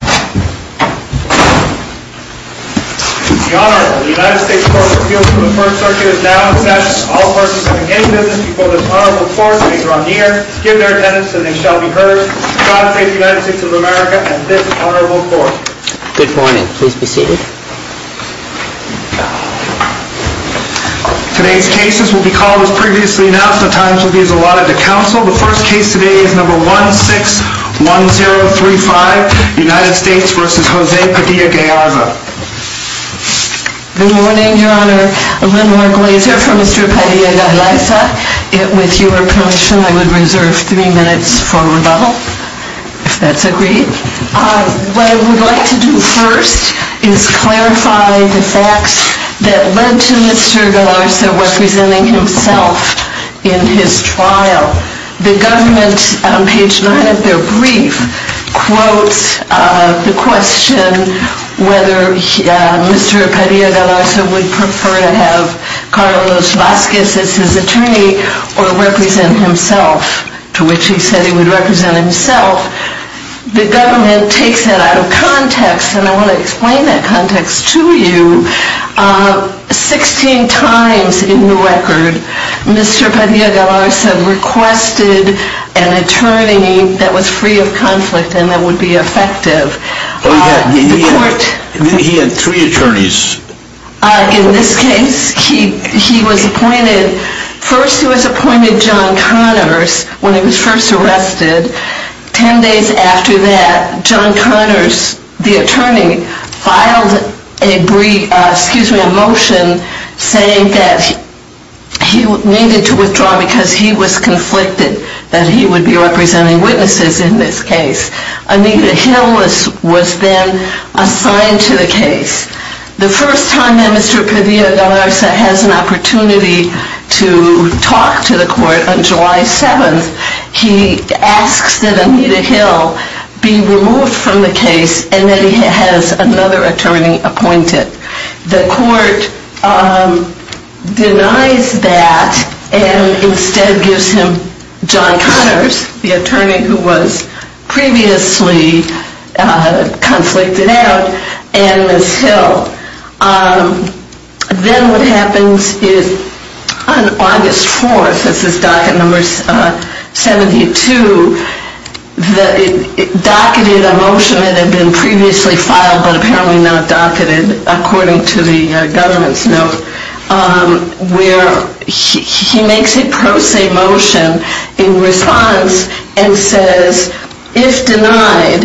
The Honorable United States Court of Appeals for the First Circuit is now in session. All parties having any business before this Honorable Court later on in the year, give their attendance and they shall be heard. God save the United States of America and this Honorable Court. Good morning. Please be seated. Today's cases will be called as previously announced. The times will be as allotted to counsel. The first case today is number 161035, United States v. José Padilla-Galarza. Good morning, Your Honor. Lynn Marglazer for Mr. Padilla-Galarza. With your permission, I would reserve three minutes for rebuttal, if that's agreed. What I would like to do first is clarify the facts that led to Mr. Galarza representing himself in his trial. The government, on page 9 of their brief, quotes the question whether Mr. Padilla-Galarza would prefer to have Carlos Vazquez as his attorney or represent himself, to which he said he would represent himself. The government takes that out of context, and I want to explain that context to you. Sixteen times in the record, Mr. Padilla-Galarza requested an attorney that was free of conflict and that would be effective. He had three attorneys. In this case, he was appointed, first he was appointed John Connors when he was first arrested. Ten days after that, John Connors, the attorney, filed a motion saying that he needed to withdraw because he was conflicted that he would be representing witnesses in this case. Anita Hill was then assigned to the case. The first time that Mr. Padilla-Galarza has an opportunity to talk to the court on July 7th, he asks that Anita Hill be removed from the case and that he has another attorney appointed. The court denies that and instead gives him John Connors, the attorney who was previously conflicted out, and Ms. Hill. Then what happens is on August 4th, this is docket number 72, docketed a motion that had been previously filed but apparently not docketed, according to the government's note, where he makes a pro se motion in response and says, if denied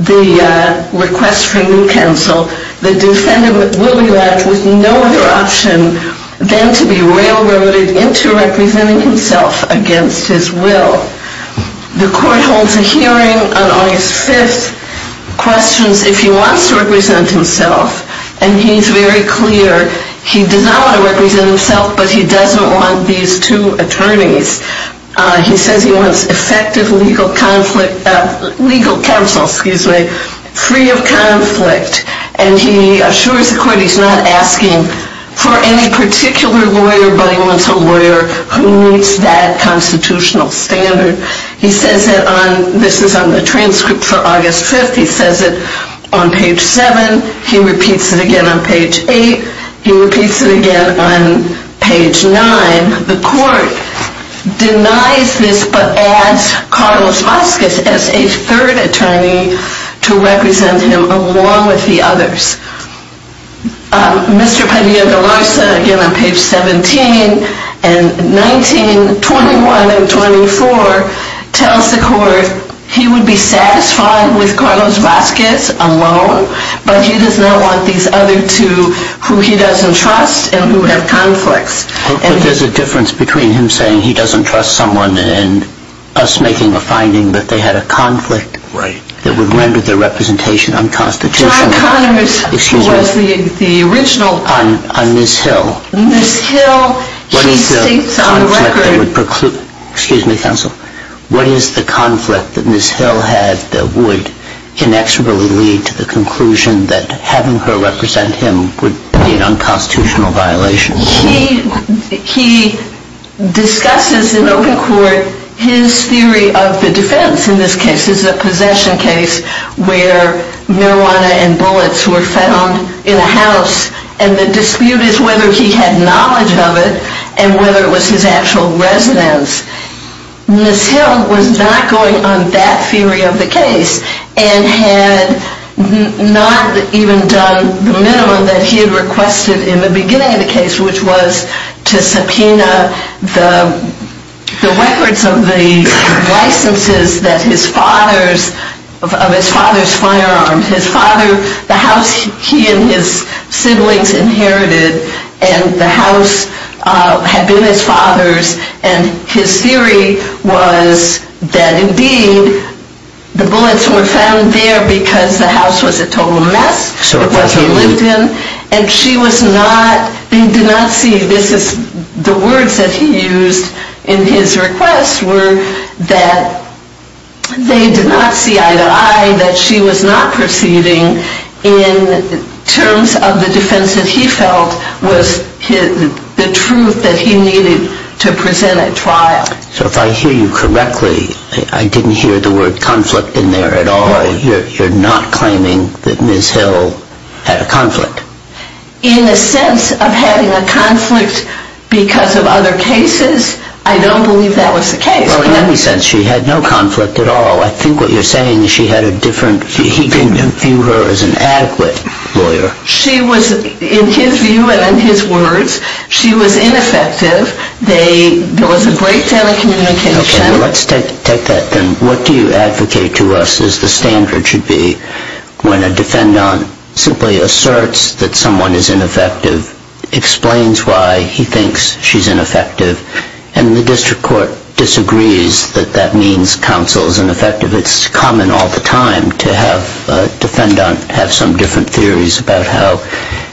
the request for a new counsel, the defendant will be left with no other option than to be railroaded into representing himself against his will. The court holds a hearing on August 5th, questions if he wants to represent himself, and he's very clear he does not want to represent himself, but he doesn't want these two attorneys. He says he wants effective legal counsel free of conflict, and he assures the court he's not asking for any particular lawyer, but he wants a lawyer who meets that constitutional standard. He says it on, this is on the transcript for August 5th, he says it on page 7, he repeats it again on page 8, he repeats it again on page 9, the court denies this but adds Carlos Vasquez as a third attorney to represent him along with the others. Mr. Padilla-Galarza, again on page 17 and 19, 21 and 24, tells the court he would be satisfied with Carlos Vasquez alone, but he does not want these other two who he doesn't trust and who have conflicts. But there's a difference between him saying he doesn't trust someone and us making a finding that they had a conflict that would render their representation unconstitutional on Ms. Hill. What is the conflict that Ms. Hill had that would inexorably lead to the conclusion that having her represent him would be an unconstitutional violation? He discusses in open court his theory of the defense in this case. It's a possession case where marijuana and bullets were found in a house, and the dispute is whether he had knowledge of it and whether it was his actual residence. Ms. Hill was not going on that theory of the case and had not even done the minimum that he had requested in the beginning of the case, which was to subpoena the records of the licenses of his father's firearms. The house he and his siblings inherited, and the house had been his father's, and his theory was that, indeed, the bullets were found there because the house was a total mess. The words that he used in his request were that they did not see eye to eye, that she was not proceeding in terms of the defense that he felt was the truth that he needed to present at trial. So if I hear you correctly, I didn't hear the word conflict in there at all. You're not claiming that Ms. Hill had a conflict? In the sense of having a conflict because of other cases, I don't believe that was the case. Well, in any sense, she had no conflict at all. I think what you're saying is she had a different, he didn't view her as an adequate lawyer. She was, in his view and in his words, she was ineffective. There was a breakdown of communication. Okay, let's take that then. What do you advocate to us as the standard should be when a defendant simply asserts that someone is ineffective, explains why he thinks she's ineffective, and the district court disagrees that that means counsel is ineffective? It's common all the time to have a defendant have some different theories about how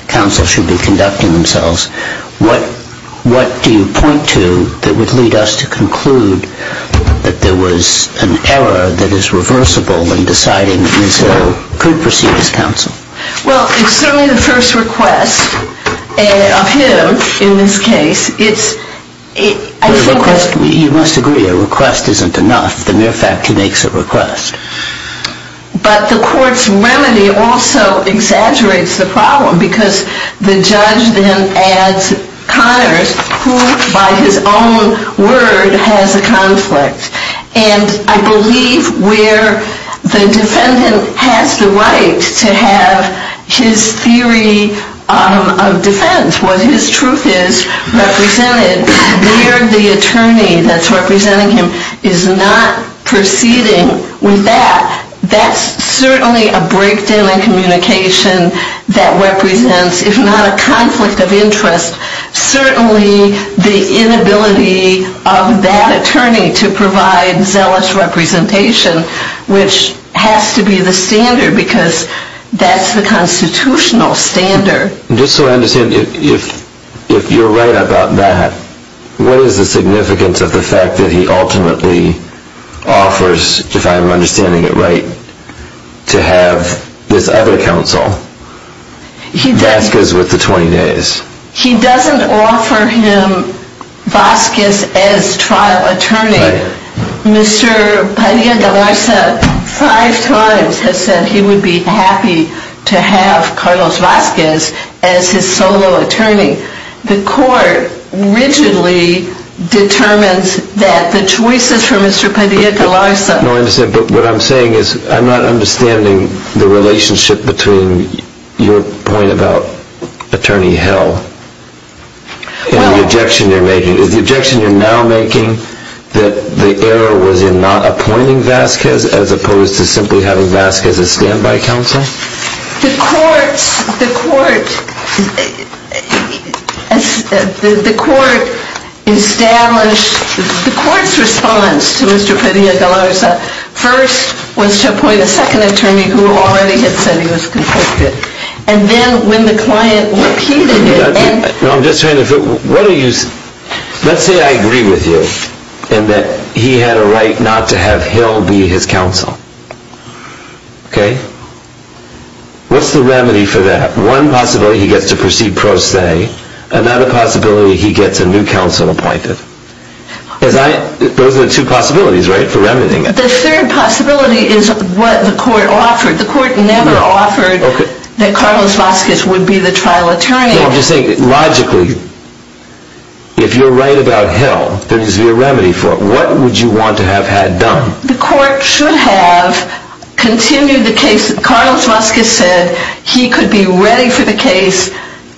counsel should be conducting themselves. What do you point to that would lead us to conclude that there was an error that is reversible in deciding that Ms. Hill could proceed as counsel? Well, it's certainly the first request of him in this case. You must agree a request isn't enough. The mere fact he makes a request. But the court's remedy also exaggerates the problem because the judge then adds Connors, who by his own word has a conflict. And I believe where the defendant has the right to have his theory of defense, what his truth is, represented, where the attorney that's representing him is not proceeding with that, that's certainly a breakdown in communication that represents, if not a conflict of interest, certainly the inability of that attorney to provide zealous representation, which has to be the standard because that's the constitutional standard. Just so I understand, if you're right about that, what is the significance of the fact that he ultimately offers, if I'm understanding it right, to have this other counsel? Vazquez with the 20 days. He doesn't offer him Vazquez as trial attorney. Right. Mr. Padilla-DeLarza five times has said he would be happy to have Carlos Vazquez as his solo attorney. The court rigidly determines that the choices for Mr. Padilla-DeLarza. No, I understand, but what I'm saying is I'm not understanding the relationship between your point about attorney hell and the objection you're making. Is the objection you're now making that the error was in not appointing Vazquez as opposed to simply having Vazquez as standby counsel? The court's response to Mr. Padilla-DeLarza, first, was to appoint a second attorney who already had said he was conflicted. And then when the client repeated it. Let's say I agree with you in that he had a right not to have hell be his counsel. Okay. What's the remedy for that? One possibility he gets to proceed pro se, another possibility he gets a new counsel appointed. Those are the two possibilities, right, for remedying it. The third possibility is what the court offered. The court never offered that Carlos Vazquez would be the trial attorney. I'm just saying logically, if you're right about hell, there needs to be a remedy for it. What would you want to have had done? The court should have continued the case that Carlos Vazquez said. He could be ready for the case.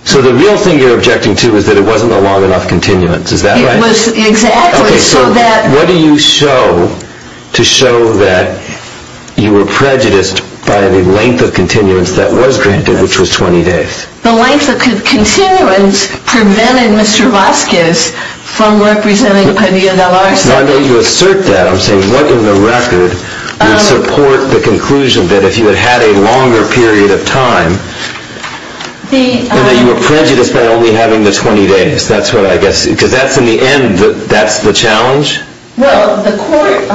So the real thing you're objecting to is that it wasn't a long enough continuance. Is that right? Exactly. So what do you show to show that you were prejudiced by the length of continuance that was granted, which was 20 days? The length of continuance prevented Mr. Vazquez from representing Padilla del Arce. Now, I know you assert that. I'm saying what in the record would support the conclusion that if he had had a longer period of time, that you were prejudiced by only having the 20 days? That's what I guess, because that's in the end, that's the challenge? Well, the court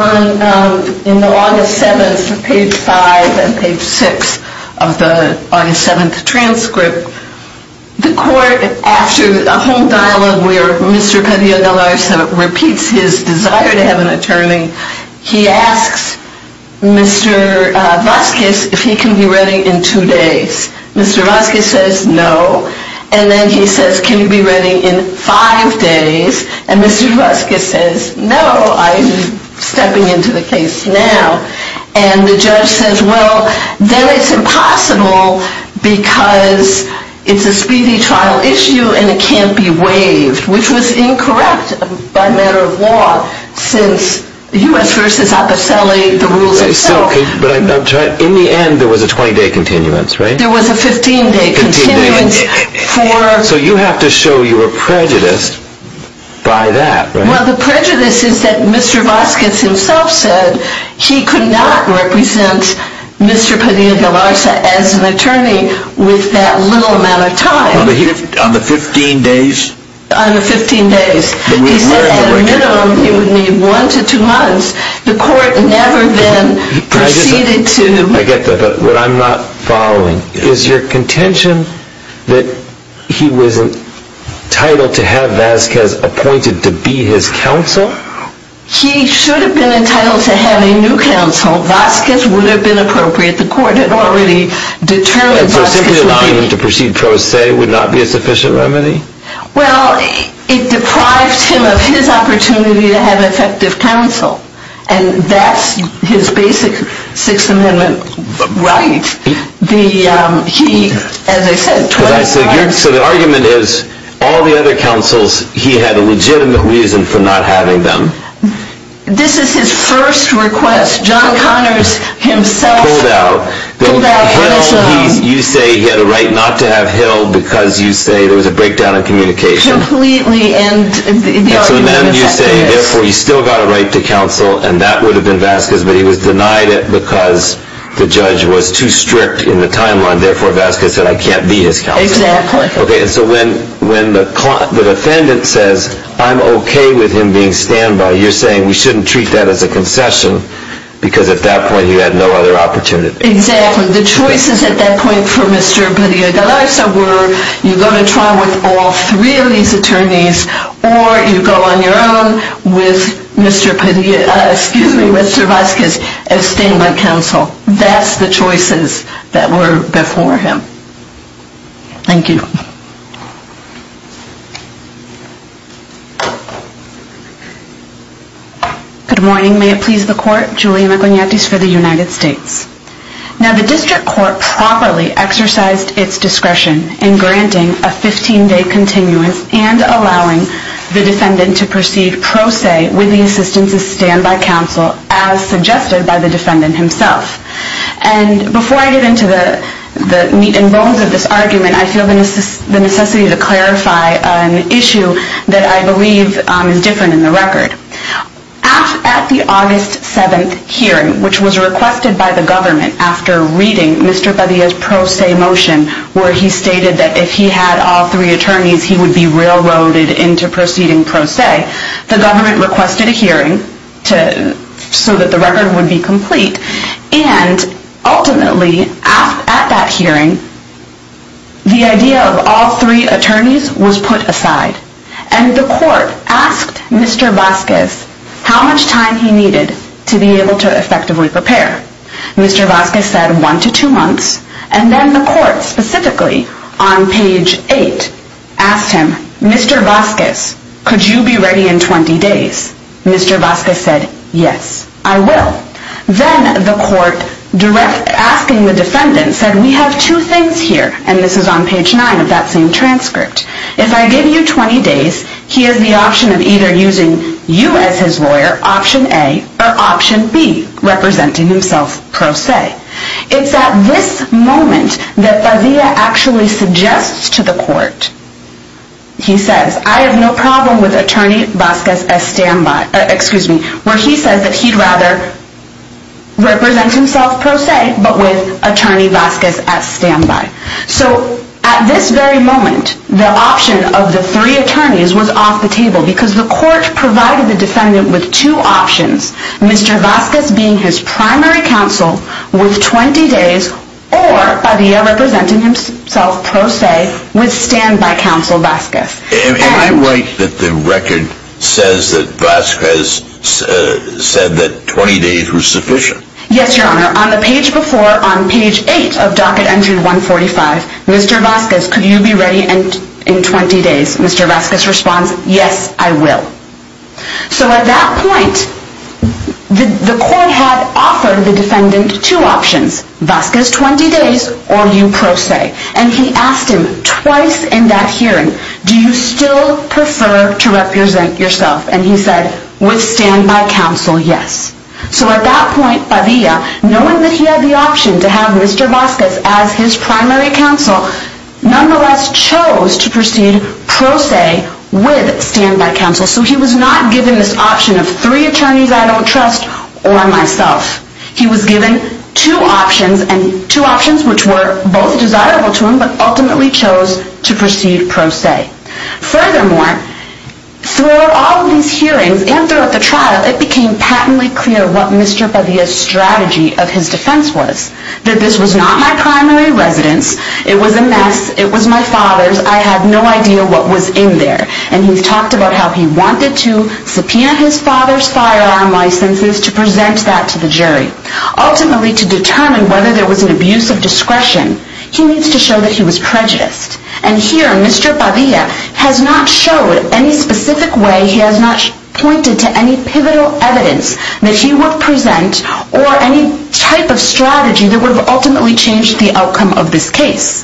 in the August 7th, page 5 and page 6 of the August 7th transcript, the court, after a whole dialogue where Mr. Padilla del Arce repeats his desire to have an attorney, he asks Mr. Vazquez if he can be ready in two days. Mr. Vazquez says no. And then he says, can you be ready in five days? And Mr. Vazquez says, no, I'm stepping into the case now. And the judge says, well, then it's impossible because it's a speedy trial issue and it can't be waived, which was incorrect by matter of law since U.S. v. Aposelli, the rules itself. But in the end, there was a 20-day continuance, right? There was a 15-day continuance. So you have to show you were prejudiced by that, right? Well, the prejudice is that Mr. Vazquez himself said he could not represent Mr. Padilla del Arce as an attorney with that little amount of time. On the 15 days? On the 15 days. He said at a minimum he would need one to two months. The court never then proceeded to... I get that, but what I'm not following, is your contention that he was entitled to have Vazquez appointed to be his counsel? He should have been entitled to have a new counsel. Vazquez would have been appropriate. The court had already determined Vazquez would be... And so simply allowing him to proceed pro se would not be a sufficient remedy? Well, it deprives him of his opportunity to have effective counsel. And that's his basic Sixth Amendment right. He, as I said, 25... So the argument is all the other counsels, he had a legitimate reason for not having them. This is his first request. John Connors himself... Pulled out. Pulled out his... You say he had a right not to have Hill because you say there was a breakdown in communication. Completely, and the argument in effect is... And that would have been Vazquez, but he was denied it because the judge was too strict in the timeline. Therefore, Vazquez said, I can't be his counsel. Exactly. Okay, and so when the defendant says, I'm okay with him being standby, you're saying we shouldn't treat that as a concession. Because at that point, he had no other opportunity. Exactly. The choices at that point for Mr. Padilla-Galarza were... You have three of these attorneys, or you go on your own with Mr. Padilla... Excuse me, with Mr. Vazquez as standby counsel. That's the choices that were before him. Thank you. Good morning. May it please the court. Juliana Guineattis for the United States. Now, the district court properly exercised its discretion in granting a 15-day continuance and allowing the defendant to proceed pro se with the assistance of standby counsel as suggested by the defendant himself. And before I get into the meat and bones of this argument, I feel the necessity to clarify an issue that I believe is different in the record. At the August 7th hearing, which was requested by the government after reading Mr. Padilla's pro se motion, where he stated that if he had all three attorneys, he would be railroaded into proceeding pro se, the government requested a hearing so that the record would be complete. And ultimately, at that hearing, the idea of all three attorneys was put aside. And the court asked Mr. Vazquez how much time he needed to be able to effectively prepare. Mr. Vazquez said one to two months. And then the court specifically, on page 8, asked him, Mr. Vazquez, could you be ready in 20 days? Mr. Vazquez said, yes, I will. Then the court, asking the defendant, said we have two things here. And this is on page 9 of that same transcript. If I give you 20 days, he has the option of either using you as his lawyer, option A, or option B, representing himself pro se. It's at this moment that Padilla actually suggests to the court, he says, I have no problem with Attorney Vazquez as standby, where he says that he'd rather represent himself pro se, but with Attorney Vazquez as standby. So at this very moment, the option of the three attorneys was off the table, because the court provided the defendant with two options, Mr. Vazquez being his primary counsel with 20 days, or Padilla representing himself pro se with standby counsel Vazquez. Am I right that the record says that Vazquez said that 20 days was sufficient? Yes, Your Honor. On the page before, on page 8 of docket entry 145, Mr. Vazquez, could you be ready in 20 days? Mr. Vazquez responds, yes, I will. So at that point, the court had offered the defendant two options, Vazquez 20 days, or you pro se. And he asked him twice in that hearing, do you still prefer to represent yourself? And he said, with standby counsel, yes. So at that point, Padilla, knowing that he had the option to have Mr. Vazquez as his primary counsel, nonetheless chose to proceed pro se with standby counsel. So he was not given this option of three attorneys I don't trust, or myself. He was given two options, and two options which were both desirable to him, but ultimately chose to proceed pro se. Furthermore, throughout all of these hearings, and throughout the trial, it became patently clear what Mr. Padilla's strategy of his defense was, that this was not my primary residence, it was a mess, it was my father's, I had no idea what was in there. And he's talked about how he wanted to subpoena his father's firearm licenses to present that to the jury. Ultimately, to determine whether there was an abuse of discretion, he needs to show that he was prejudiced. And here, Mr. Padilla has not showed any specific way, he has not pointed to any pivotal evidence that he would present, or any type of strategy that would have ultimately changed the outcome of this case.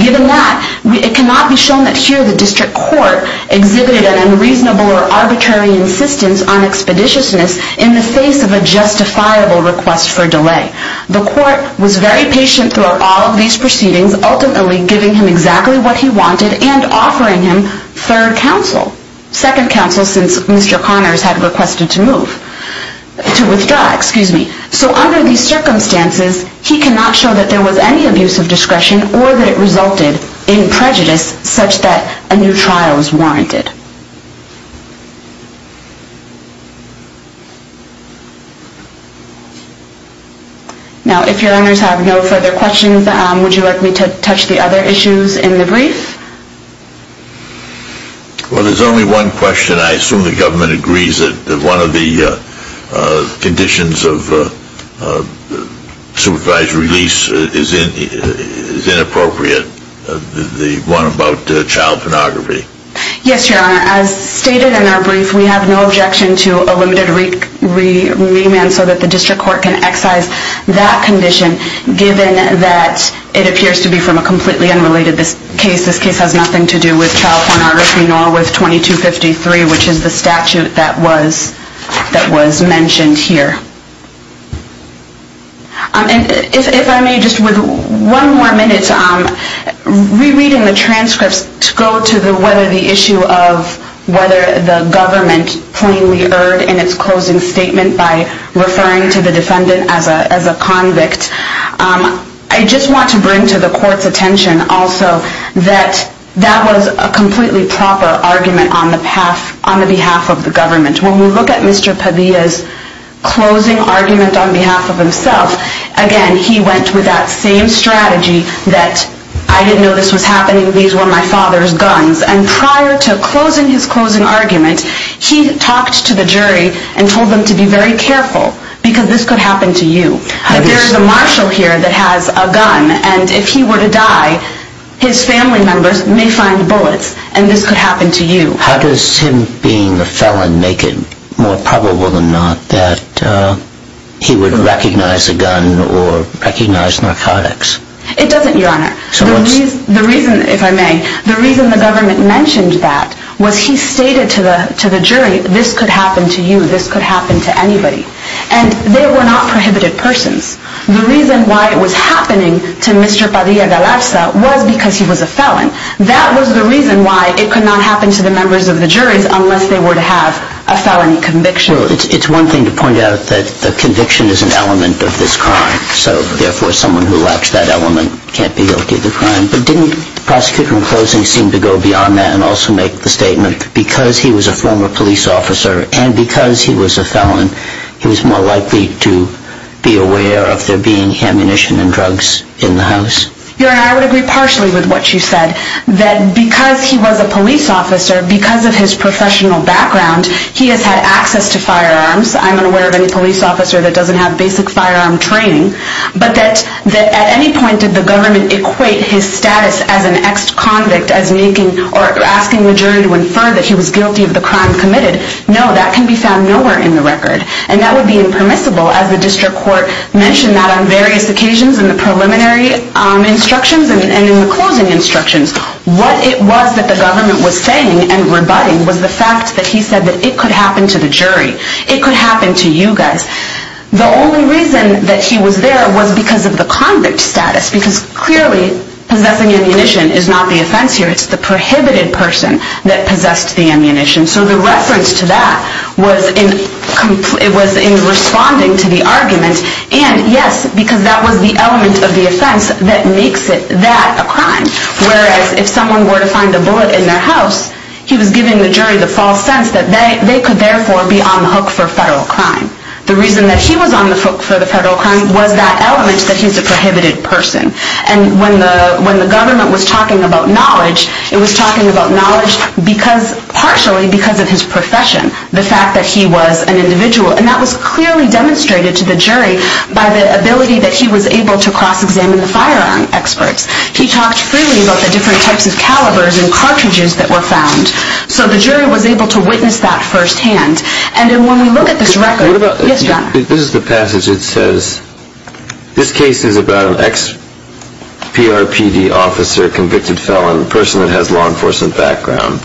Given that, it cannot be shown that here the district court exhibited an unreasonable or arbitrary insistence on expeditiousness in the face of a justifiable request for delay. The court was very patient throughout all of these proceedings, ultimately giving him exactly what he wanted and offering him third counsel, second counsel since Mr. Connors had requested to withdraw. So under these circumstances, he cannot show that there was any abuse of discretion or that it resulted in prejudice such that a new trial was warranted. Now, if your honors have no further questions, would you like me to touch the other issues in the brief? Well, there's only one question. I assume the government agrees that one of the conditions of supervised release is inappropriate, the one about child pornography. Yes, your honor. As stated in our brief, we have no objection to a limited remand so that the district court can excise that condition, given that it appears to be from a completely unrelated case. This case has nothing to do with child pornography nor with 2253, which is the statute that was mentioned here. If I may, just with one more minute, rereading the transcripts to go to whether the issue of whether the government plainly erred in its closing statement by referring to the defendant as a convict, I just want to bring to the court's attention also that that was a completely proper argument on the behalf of the government. When we look at Mr. Padilla's closing argument on behalf of himself, again, he went with that same strategy that, I didn't know this was happening, these were my father's guns. And prior to closing his closing argument, he talked to the jury and told them to be very careful because this could happen to you. There is a marshal here that has a gun, and if he were to die, his family members may find bullets, and this could happen to you. How does him being a felon make it more probable than not that he would recognize a gun or recognize narcotics? It doesn't, Your Honor. The reason, if I may, the reason the government mentioned that was he stated to the jury, this could happen to you, this could happen to anybody. And they were not prohibited persons. The reason why it was happening to Mr. Padilla Galeza was because he was a felon. That was the reason why it could not happen to the members of the juries unless they were to have a felony conviction. It's one thing to point out that the conviction is an element of this crime, so therefore someone who lacks that element can't be guilty of the crime. But didn't the prosecutor in closing seem to go beyond that and also make the statement that because he was a former police officer and because he was a felon, he was more likely to be aware of there being ammunition and drugs in the house? Your Honor, I would agree partially with what you said, that because he was a police officer, because of his professional background, he has had access to firearms. I'm unaware of any police officer that doesn't have basic firearm training. But that at any point did the government equate his status as an ex-convict as making or asking the jury to infer that he was guilty of the crime committed? No, that can be found nowhere in the record. And that would be impermissible as the district court mentioned that on various occasions in the preliminary instructions and in the closing instructions. What it was that the government was saying and rebutting was the fact that he said that it could happen to the jury. It could happen to you guys. The only reason that he was there was because of the convict status. Because clearly, possessing ammunition is not the offense here. It's the prohibited person that possessed the ammunition. So the reference to that was in responding to the argument. And yes, because that was the element of the offense that makes that a crime. Whereas if someone were to find a bullet in their house, he was giving the jury the false sense that they could therefore be on the hook for federal crime. The reason that he was on the hook for the federal crime was that element that he's a prohibited person. And when the government was talking about knowledge, it was talking about knowledge partially because of his profession, the fact that he was an individual. And that was clearly demonstrated to the jury by the ability that he was able to cross-examine the firearm experts. He talked freely about the different types of calibers and cartridges that were found. So the jury was able to witness that firsthand. And when we look at this record... Yes, John? This is the passage. It says, this case is about an ex-PRPD officer, convicted felon, a person that has law enforcement background.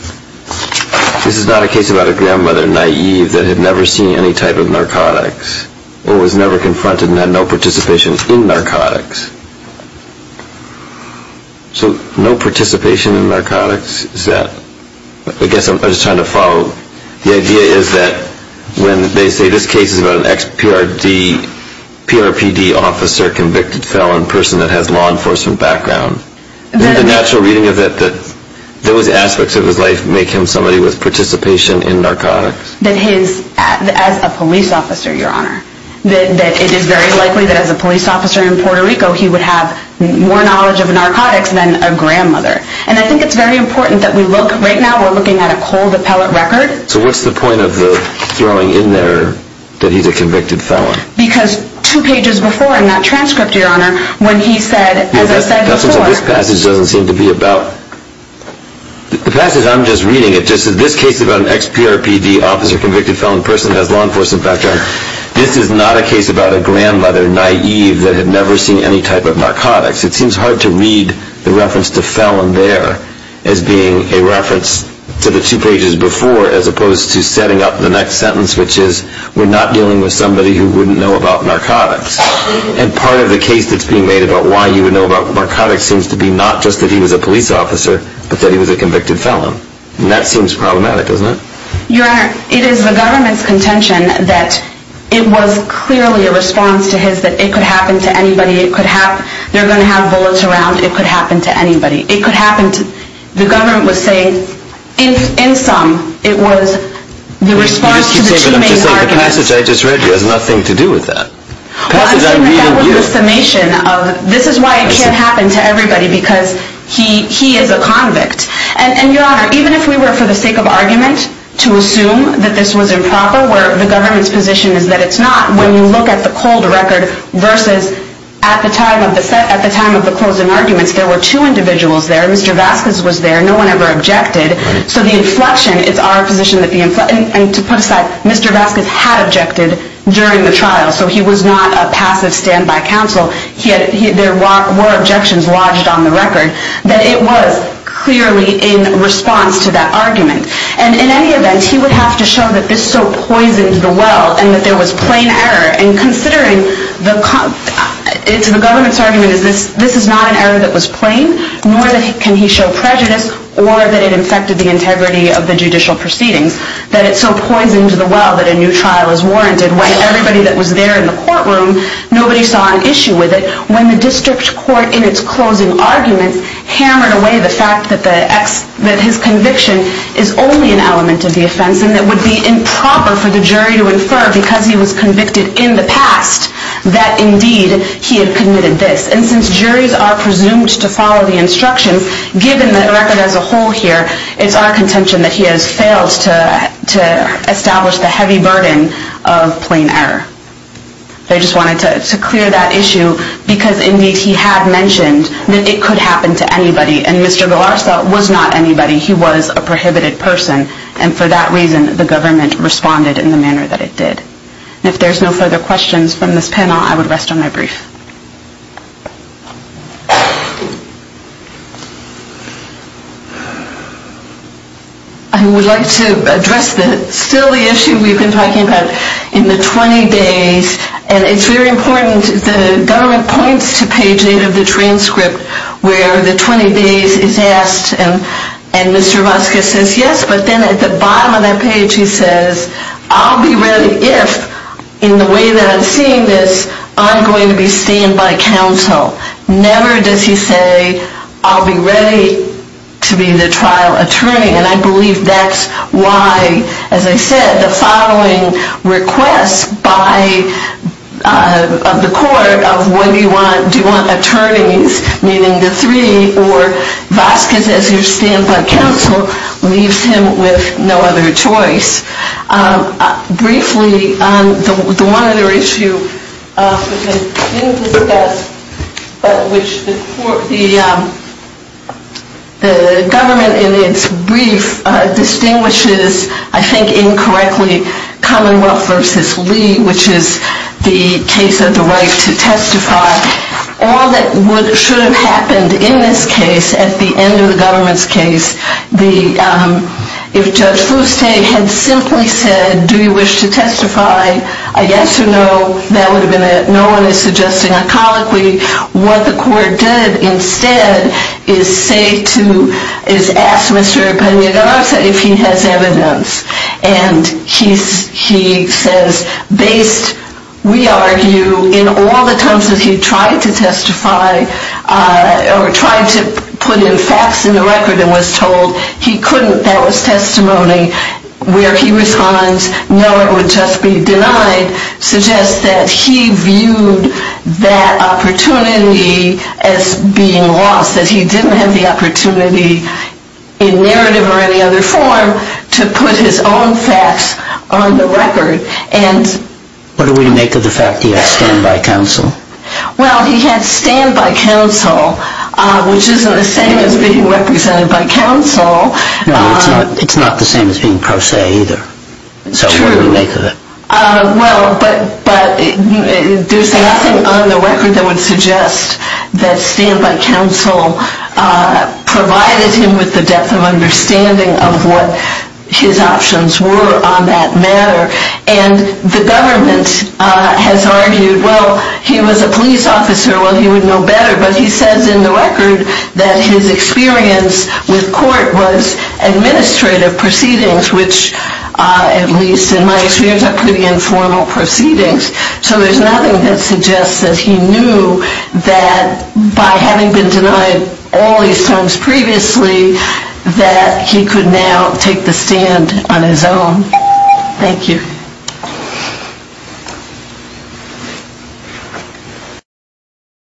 This is not a case about a grandmother, naive, that had never seen any type of narcotics or was never confronted and had no participation in narcotics. So no participation in narcotics is that... I guess I'm just trying to follow. The idea is that when they say, this case is about an ex-PRPD officer, convicted felon, a person that has law enforcement background, isn't it the natural reading of it that those aspects of his life make him somebody with participation in narcotics? As a police officer, Your Honor. It is very likely that as a police officer in Puerto Rico, he would have more knowledge of narcotics than a grandmother. And I think it's very important that we look... Right now we're looking at a cold appellate record. So what's the point of throwing in there that he's a convicted felon? Because two pages before in that transcript, Your Honor, when he said, as I said before... This passage doesn't seem to be about... The passage I'm just reading, it just says, this case is about an ex-PRPD officer, convicted felon, a person that has law enforcement background. This is not a case about a grandmother, naive, that had never seen any type of narcotics. It seems hard to read the reference to felon there as being a reference to the two pages before as opposed to setting up the next sentence, which is, we're not dealing with somebody who wouldn't know about narcotics. And part of the case that's being made about why you would know about narcotics seems to be not just that he was a police officer, but that he was a convicted felon. And that seems problematic, doesn't it? Your Honor, it is the government's contention that it was clearly a response to his that it could happen to anybody, they're going to have bullets around, it could happen to anybody. It could happen to... The government was saying, in sum, it was the response to the two main arguments. But I'm just saying the passage I just read has nothing to do with that. Well, I'm saying that that was the summation of... This is why it can't happen to everybody because he is a convict. And, Your Honor, even if we were for the sake of argument to assume that this was improper, where the government's position is that it's not, when you look at the cold record versus at the time of the closing arguments, there were two individuals there. Mr. Vasquez was there. No one ever objected. So the inflection, it's our position that the inflection... And to put it aside, Mr. Vasquez had objected during the trial. So he was not a passive standby counsel. There were objections lodged on the record that it was clearly in response to that argument. And in any event, he would have to show that this so poisoned the well and that there was plain error. And considering the... It's the government's argument is this is not an error that was plain, nor can he show prejudice or that it infected the integrity of the judicial proceedings, that it so poisoned the well that a new trial is warranted when everybody that was there in the courtroom, nobody saw an issue with it, when the district court in its closing arguments hammered away the fact that his conviction is only an element of the offense and it would be improper for the jury to infer because he was convicted in the past that indeed he had committed this. And since juries are presumed to follow the instructions, given the record as a whole here, it's our contention that he has failed to establish the heavy burden of plain error. I just wanted to clear that issue because indeed he had mentioned that it could happen to anybody and Mr. Galarza was not anybody. He was a prohibited person and for that reason the government responded in the manner that it did. And if there's no further questions from this panel, I would rest on my brief. I would like to address still the issue we've been talking about in the 20 days. And it's very important, the government points to page 8 of the transcript where the 20 days is asked and Mr. Vasquez says yes, but then at the bottom of that page he says, I'll be ready if, in the way that I'm seeing this, I'm going to be seen by counsel. Never does he say, I'll be ready to be the trial attorney and I believe that's why, as I said, the following request of the court of do you want attorneys, meaning the three, or Vasquez as your standby counsel, leaves him with no other choice. Briefly, the one other issue which the government in its brief distinguishes, I think incorrectly, Commonwealth v. Lee, which is the case of the right to testify. All that should have happened in this case at the end of the government's case, if Judge Fuste had simply said, do you wish to testify, a yes or no, that would have been it. No one is suggesting iconically. What the court did instead is say to, is ask Mr. Pena Garza if he has evidence. And he says, based, we argue, in all the times that he tried to testify or tried to put in facts in the record and was told he couldn't, that was testimony, where he responds, no, it would just be denied, suggests that he viewed that opportunity as being lost, that he didn't have the opportunity in narrative or any other form to put his own facts on the record. What do we make of the fact that he had standby counsel? Well, he had standby counsel, which isn't the same as being represented by counsel. No, it's not the same as being pro se either. True. So what do we make of it? Well, but there's nothing on the record that would suggest that standby counsel provided him with the depth of understanding of what his options were on that matter. And the government has argued, well, he was a police officer, well, he would know better. But he says in the record that his experience with court was administrative proceedings, which, at least in my experience, are pretty informal proceedings. So there's nothing that suggests that he knew that by having been denied all these times previously, that he could now take the stand on his own. Thank you.